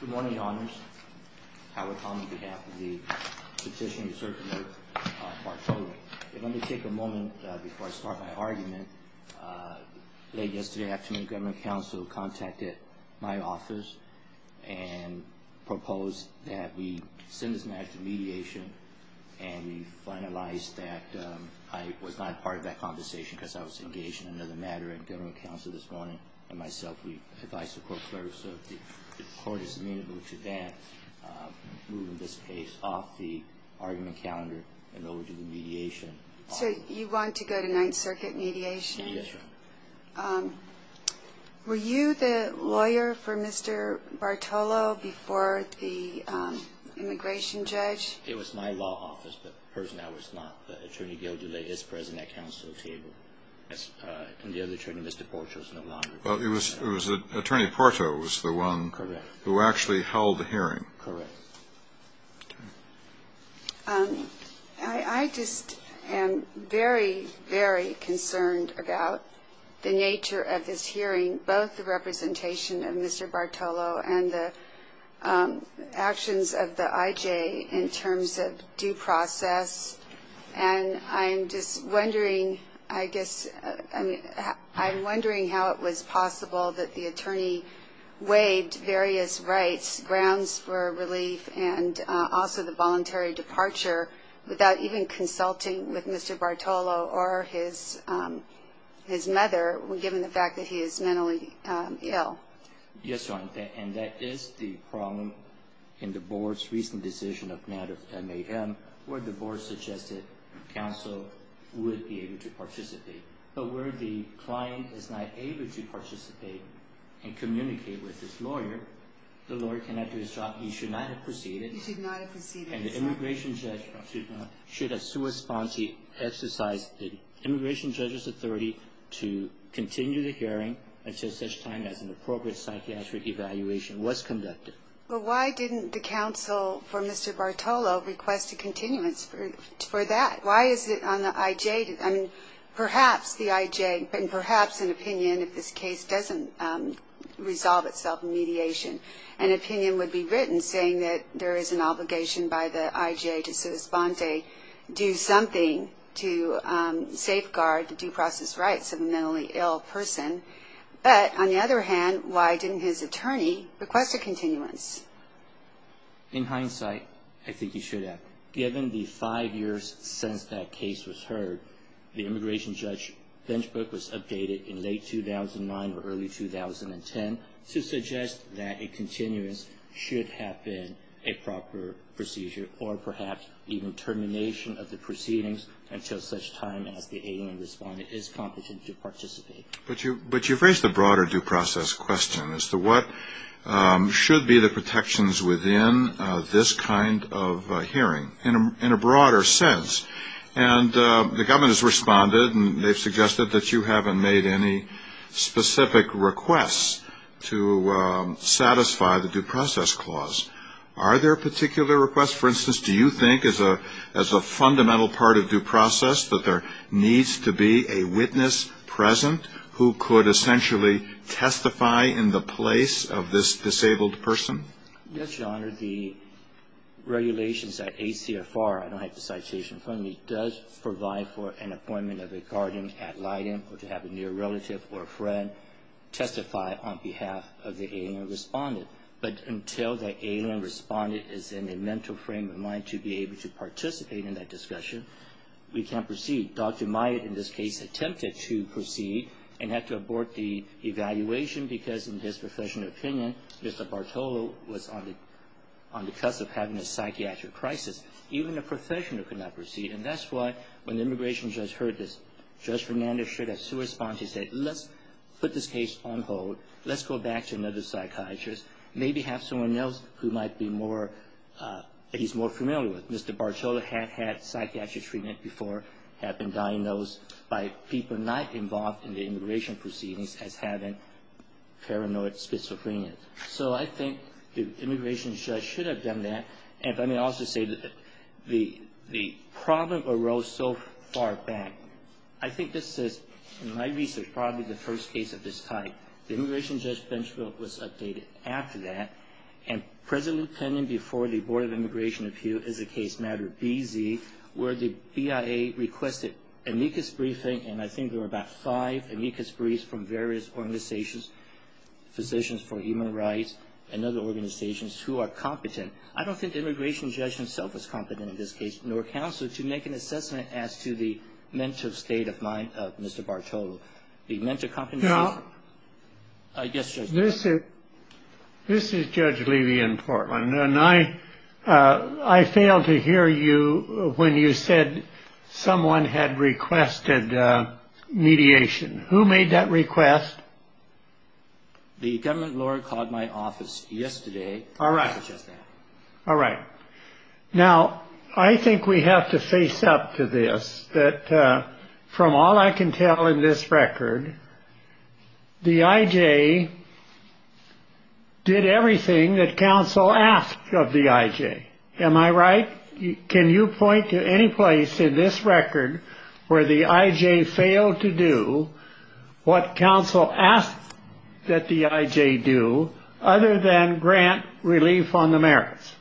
Good morning, Honors. Howard Hong on behalf of the Petitioner-Circulator Portfolio. Let me take a moment before I start my argument. Late yesterday afternoon, Government Counsel contacted my office and proposed that we send this matter to mediation. And we finalized that I was not a part of that conversation because I was engaged in another matter at Government Counsel this morning. And myself, we advised the court clerk so if the court is amenable to that, move this case off the argument calendar and over to the mediation. So you want to go to Ninth Circuit mediation? Yes, Your Honor. Were you the lawyer for Mr. Bartolo before the immigration judge? It was my law office, the person I was not. Well, it was Attorney Porto who was the one who actually held the hearing. Correct. I just am very, very concerned about the nature of this hearing, both the representation of Mr. Bartolo and the actions of the IJ in terms of due process. And I'm just wondering, I guess, I'm wondering how it was possible that the attorney weighed various rights, grounds for relief and also the voluntary departure, without even consulting with Mr. Bartolo or his mother, given the fact that he is mentally ill. Yes, Your Honor. And that is the problem in the board's recent decision of matters at Mayhem, where the board suggested counsel would be able to participate. But where the client is not able to participate and communicate with his lawyer, the lawyer cannot do his job. He should not have proceeded. He should not have proceeded. And the immigration judge should have sui sponte exercised the immigration judge's authority to continue the hearing until such time as an appropriate psychiatric evaluation was conducted. But why didn't the counsel for Mr. Bartolo request a continuance for that? Why is it on the IJ? I mean, perhaps the IJ, and perhaps an opinion if this case doesn't resolve itself in mediation, an opinion would be written saying that there is an obligation by the IJ to sui sponte, do something to safeguard the due process rights of a mentally ill person. But on the other hand, why didn't his attorney request a continuance? In hindsight, I think he should have. Given the five years since that case was heard, the immigration judge's bench book was updated in late 2009 or early 2010 to suggest that a continuance should have been a proper procedure or perhaps even termination of the proceedings until such time as the alien respondent is competent to participate. But you've raised a broader due process question as to what should be the protections within this kind of hearing in a broader sense. And the government has responded and they've suggested that you haven't made any specific requests to satisfy the due process clause. Are there particular requests? For instance, do you think as a fundamental part of due process that there needs to be a witness present who could essentially testify in the place of this disabled person? Yes, Your Honor. The regulations at ACFR, I don't have the citation in front of me, does provide for an appointment of a guardian at Leiden or to have a near relative or a friend testify on behalf of the alien respondent. But until the alien respondent is in a mental frame of mind to be able to participate in that discussion, we can't proceed. Dr. Myatt, in this case, attempted to proceed and had to abort the evaluation because in his professional opinion, Mr. Bartolo was on the cusp of having a psychiatric crisis. Even a professional could not proceed. And that's why when the immigration judge heard this, Judge Fernandez should have corresponded. He said, let's put this case on hold. Let's go back to another psychiatrist, maybe have someone else who might be more, he's more familiar with. Mr. Bartolo had had psychiatric treatment before, had been diagnosed by people not involved in the immigration proceedings as having paranoid schizophrenia. So I think the immigration judge should have done that. And let me also say that the problem arose so far back. I think this is, in my research, probably the first case of this type. The immigration judge bench vote was updated after that. And presently pending before the Board of Immigration Appeal is a case matter BZ where the BIA requested amicus briefing, and I think there were about five amicus briefs from various organizations, physicians for human rights and other organizations, who are competent. I don't think the immigration judge himself is competent in this case, nor counsel, to make an assessment as to the mental state of mind of Mr. Bartolo. Now, this is Judge Levy in Portland. And I failed to hear you when you said someone had requested mediation. Who made that request? The government lawyer called my office yesterday. All right. All right. Now, I think we have to face up to this, that from all I can tell in this record, the IJ did everything that counsel asked of the IJ. Am I right? Can you point to any place in this record where the IJ failed to do what counsel asked that the IJ do, other than grant relief on the merits?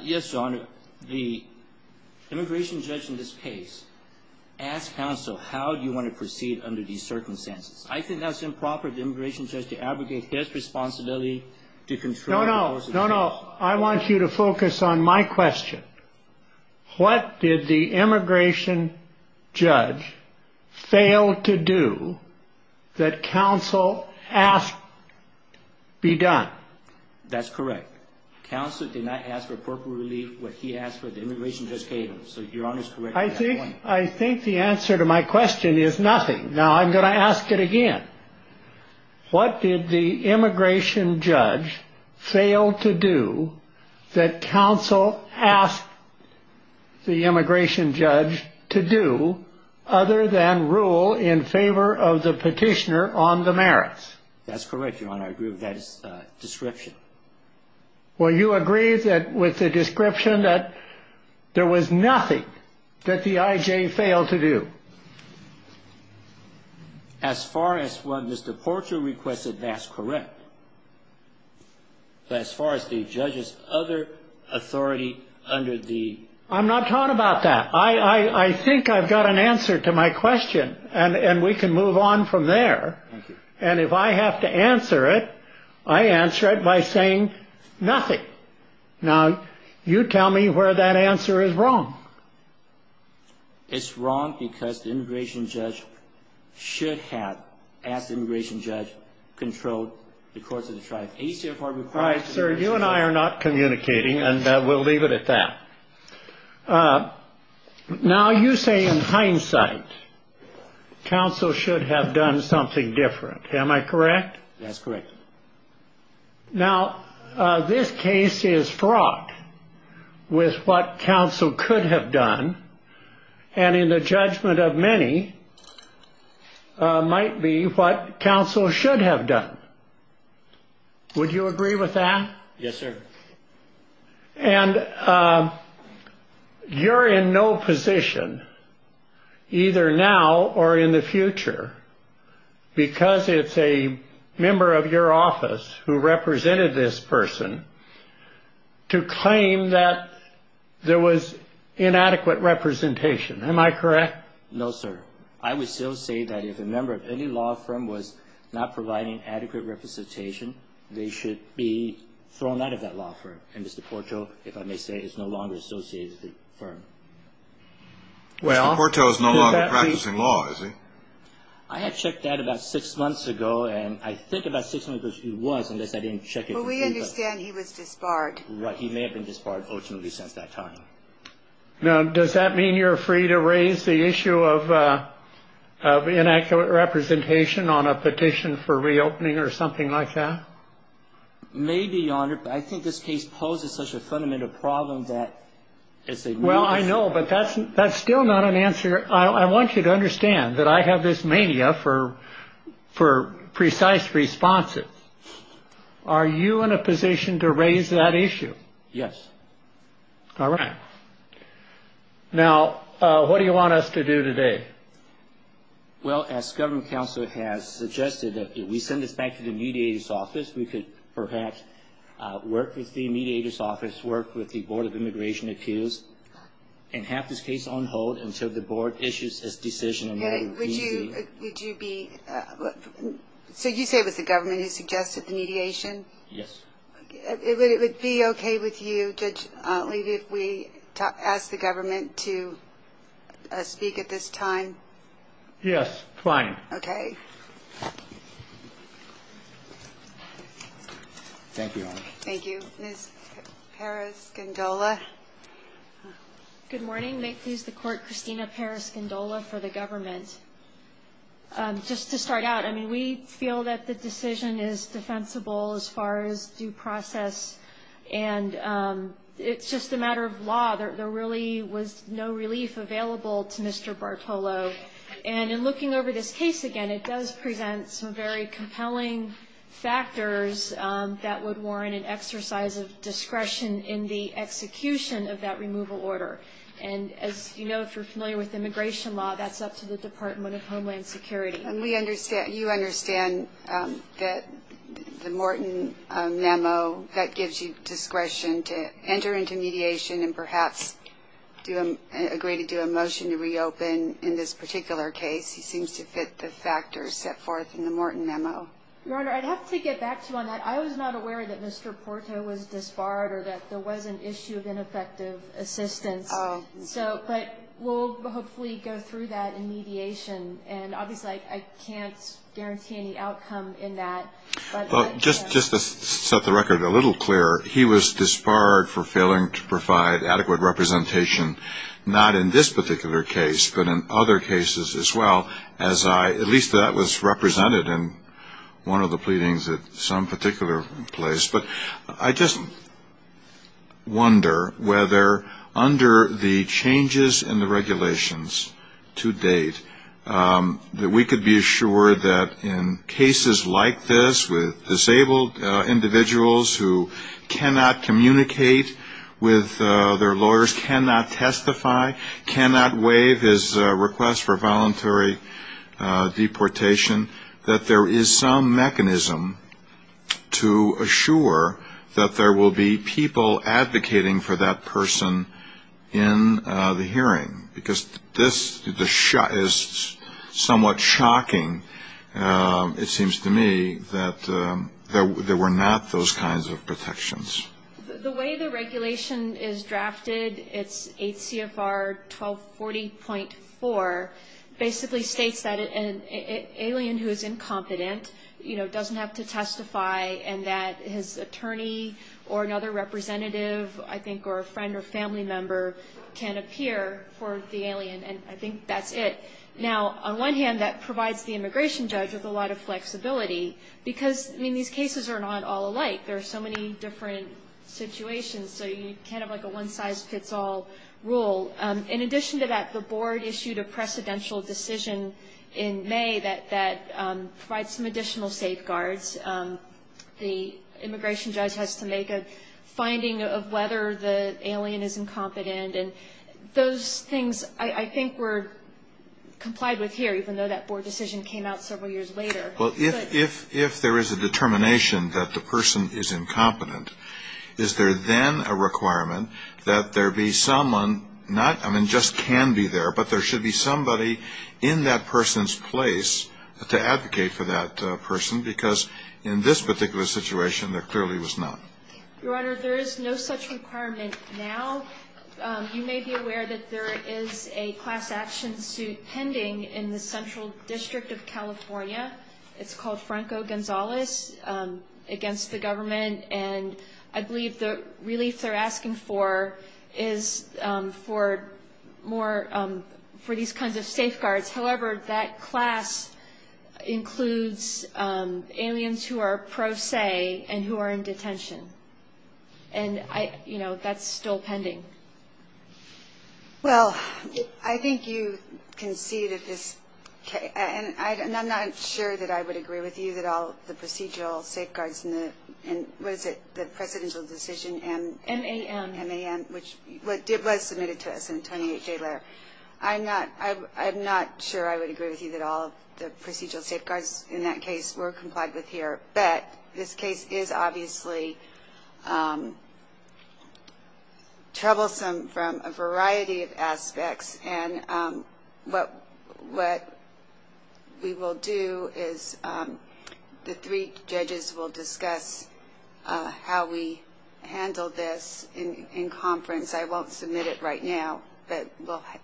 Yes, Your Honor. The immigration judge in this case asked counsel, how do you want to proceed under these circumstances? I think that's improper of the immigration judge to abrogate his responsibility to control the course of the case. No, no. No, no. I want you to focus on my question. What did the immigration judge fail to do that counsel asked be done? That's correct. Counsel did not ask for appropriate relief. What he asked for, the immigration judge gave him. So, Your Honor's correct at that point. I think the answer to my question is nothing. Now, I'm going to ask it again. What did the immigration judge fail to do that counsel asked the immigration judge to do, other than rule in favor of the petitioner on the merits? That's correct, Your Honor. I agree with that description. Well, you agree with the description that there was nothing that the IJ failed to do? As far as what Mr. Porcher requested, that's correct. But as far as the judge's other authority under the… I'm not talking about that. I think I've got an answer to my question, and we can move on from there. Thank you. And if I have to answer it, I answer it by saying nothing. Now, you tell me where that answer is wrong. It's wrong because the immigration judge should have, as the immigration judge, controlled the courts of the tribe. All right, sir. You and I are not communicating, and we'll leave it at that. Now, you say in hindsight, counsel should have done something different. Am I correct? That's correct. Now, this case is fraught with what counsel could have done and in the judgment of many might be what counsel should have done. Would you agree with that? Yes, sir. And you're in no position, either now or in the future, because it's a member of your office who represented this person to claim that there was inadequate representation. Am I correct? No, sir. I would still say that if a member of any law firm was not providing adequate representation, they should be thrown out of that law firm, and Mr. Porto, if I may say, is no longer associated with the firm. Mr. Porto is no longer practicing law, is he? I had checked that about six months ago, and I think about six months ago he was, unless I didn't check it. Well, we understand he was disbarred. He may have been disbarred, fortunately, since that time. Now, does that mean you're free to raise the issue of inaccurate representation on a petition for reopening or something like that? Maybe, Your Honor, but I think this case poses such a fundamental problem that it's a new issue. Well, I know, but that's still not an answer. I want you to understand that I have this mania for precise responses. Are you in a position to raise that issue? Yes. All right. Now, what do you want us to do today? Well, as government counsel has suggested, if we send this back to the mediator's office, we could perhaps work with the mediator's office, work with the Board of Immigration accused, and have this case on hold until the Board issues its decision on whether to reopen. Harry, would you be – so you say it was the government who suggested the mediation? Yes. Would it be okay with you, Judge Lee, if we asked the government to speak at this time? Yes, fine. Okay. Thank you, Your Honor. Thank you. Ms. Paras-Gondola. Good morning. May it please the Court, Christina Paras-Gondola for the government. Just to start out, I mean, we feel that the decision is defensible as far as due process, and it's just a matter of law. There really was no relief available to Mr. Bartolo. And in looking over this case again, it does present some very compelling factors that would warrant an exercise of discretion in the execution of that removal order. And as you know, if you're familiar with immigration law, that's up to the Department of Homeland Security. And we understand – you understand that the Morton memo, that gives you discretion to enter into mediation and perhaps agree to do a motion to reopen in this particular case. He seems to fit the factors set forth in the Morton memo. Your Honor, I'd have to get back to you on that. I was not aware that Mr. Porto was disbarred or that there was an issue of ineffective assistance. Oh. But we'll hopefully go through that in mediation. And obviously I can't guarantee any outcome in that. Just to set the record a little clearer, he was disbarred for failing to provide adequate representation, not in this particular case, but in other cases as well, as I – at least that was represented in one of the pleadings at some particular place. But I just wonder whether under the changes in the regulations to date, that we could be assured that in cases like this, with disabled individuals who cannot communicate with their lawyers, cannot testify, cannot waive his request for voluntary deportation, that there is some mechanism to assure that there will be people advocating for that person in the hearing. Because this is somewhat shocking, it seems to me, that there were not those kinds of protections. The way the regulation is drafted, it's 8 CFR 1240.4, basically states that an alien who is incompetent doesn't have to testify and that his attorney or another representative, I think, or a friend or family member can appear for the alien. And I think that's it. Now, on one hand, that provides the immigration judge with a lot of flexibility, because, I mean, these cases are not all alike. There are so many different situations, so you can't have like a one-size-fits-all rule. In addition to that, the board issued a precedential decision in May that provides some additional safeguards. The immigration judge has to make a finding of whether the alien is incompetent. And those things, I think, were complied with here, even though that board decision came out several years later. Well, if there is a determination that the person is incompetent, is there then a requirement that there be someone not ñ I mean, just can be there, but there should be somebody in that person's place to advocate for that person, because in this particular situation, there clearly was not. Your Honor, there is no such requirement now. You may be aware that there is a class action suit pending in the central district of California. It's called Franco Gonzales against the government, and I believe the relief they're asking for is for more ñ for these kinds of safeguards. However, that class includes aliens who are pro se and who are in detention. And, you know, that's still pending. Well, I think you can see that this ñ and I'm not sure that I would agree with you that all the procedural safeguards in the ñ what is it, the precedential decision in ñ MAM. MAM, which was submitted to us in a 28-day letter. I'm not sure I would agree with you that all the procedural safeguards in that case were complied with here. But this case is obviously troublesome from a variety of aspects, and what we will do is the three judges will discuss how we handle this in conference. I won't submit it right now, but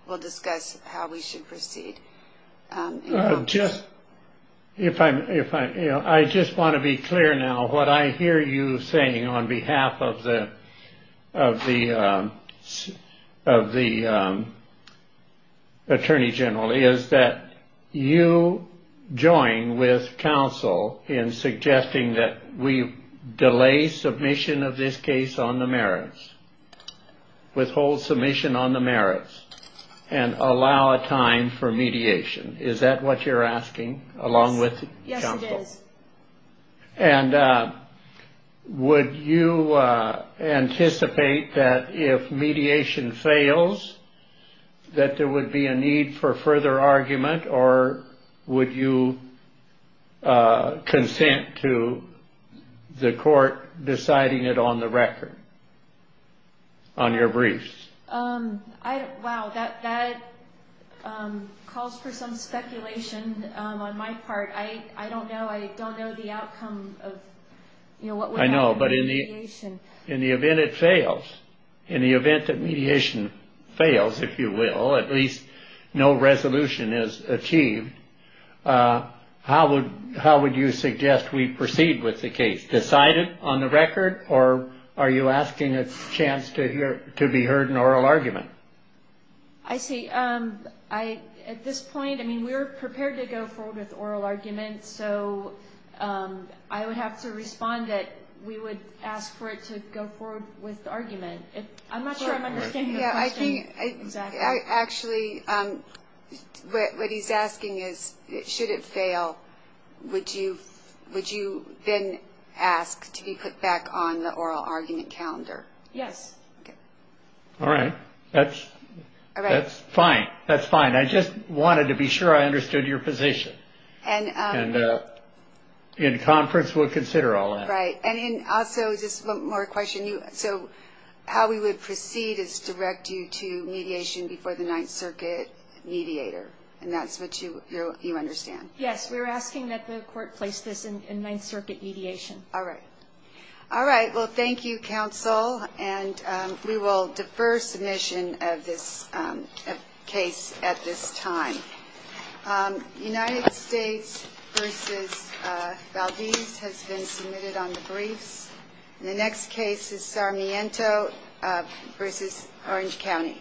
we'll discuss how we should proceed. Just ñ if I'm ñ you know, I just want to be clear now. What I hear you saying on behalf of the Attorney General is that you join with counsel in suggesting that we delay submission of this case on the merits, withhold submission on the merits, and allow a time for mediation. Is that what you're asking along with counsel? Yes, it is. And would you anticipate that if mediation fails, that there would be a need for further argument, or would you consent to the court deciding it on the record, on your briefs? I don't ñ wow, that calls for some speculation on my part. I don't know. I don't know the outcome of, you know, what would happen with mediation. I know, but in the event it fails, in the event that mediation fails, if you will, at least no resolution is achieved, how would you suggest we proceed with the case? Decide it on the record, or are you asking a chance to be heard in oral argument? I see. At this point, I mean, we were prepared to go forward with oral argument, so I would have to respond that we would ask for it to go forward with argument. I'm not sure I'm understanding your question exactly. Actually, what he's asking is, should it fail, would you then ask to be put back on the oral argument calendar? Yes. All right. That's fine. That's fine. I just wanted to be sure I understood your position, and in conference we'll consider all that. Right. And also, just one more question. So how we would proceed is direct you to mediation before the Ninth Circuit mediator, and that's what you understand? Yes, we were asking that the court place this in Ninth Circuit mediation. All right. All right. Well, thank you, counsel, and we will defer submission of this case at this time. United States v. Valdez has been submitted on the briefs. The next case is Sarmiento v. Orange County.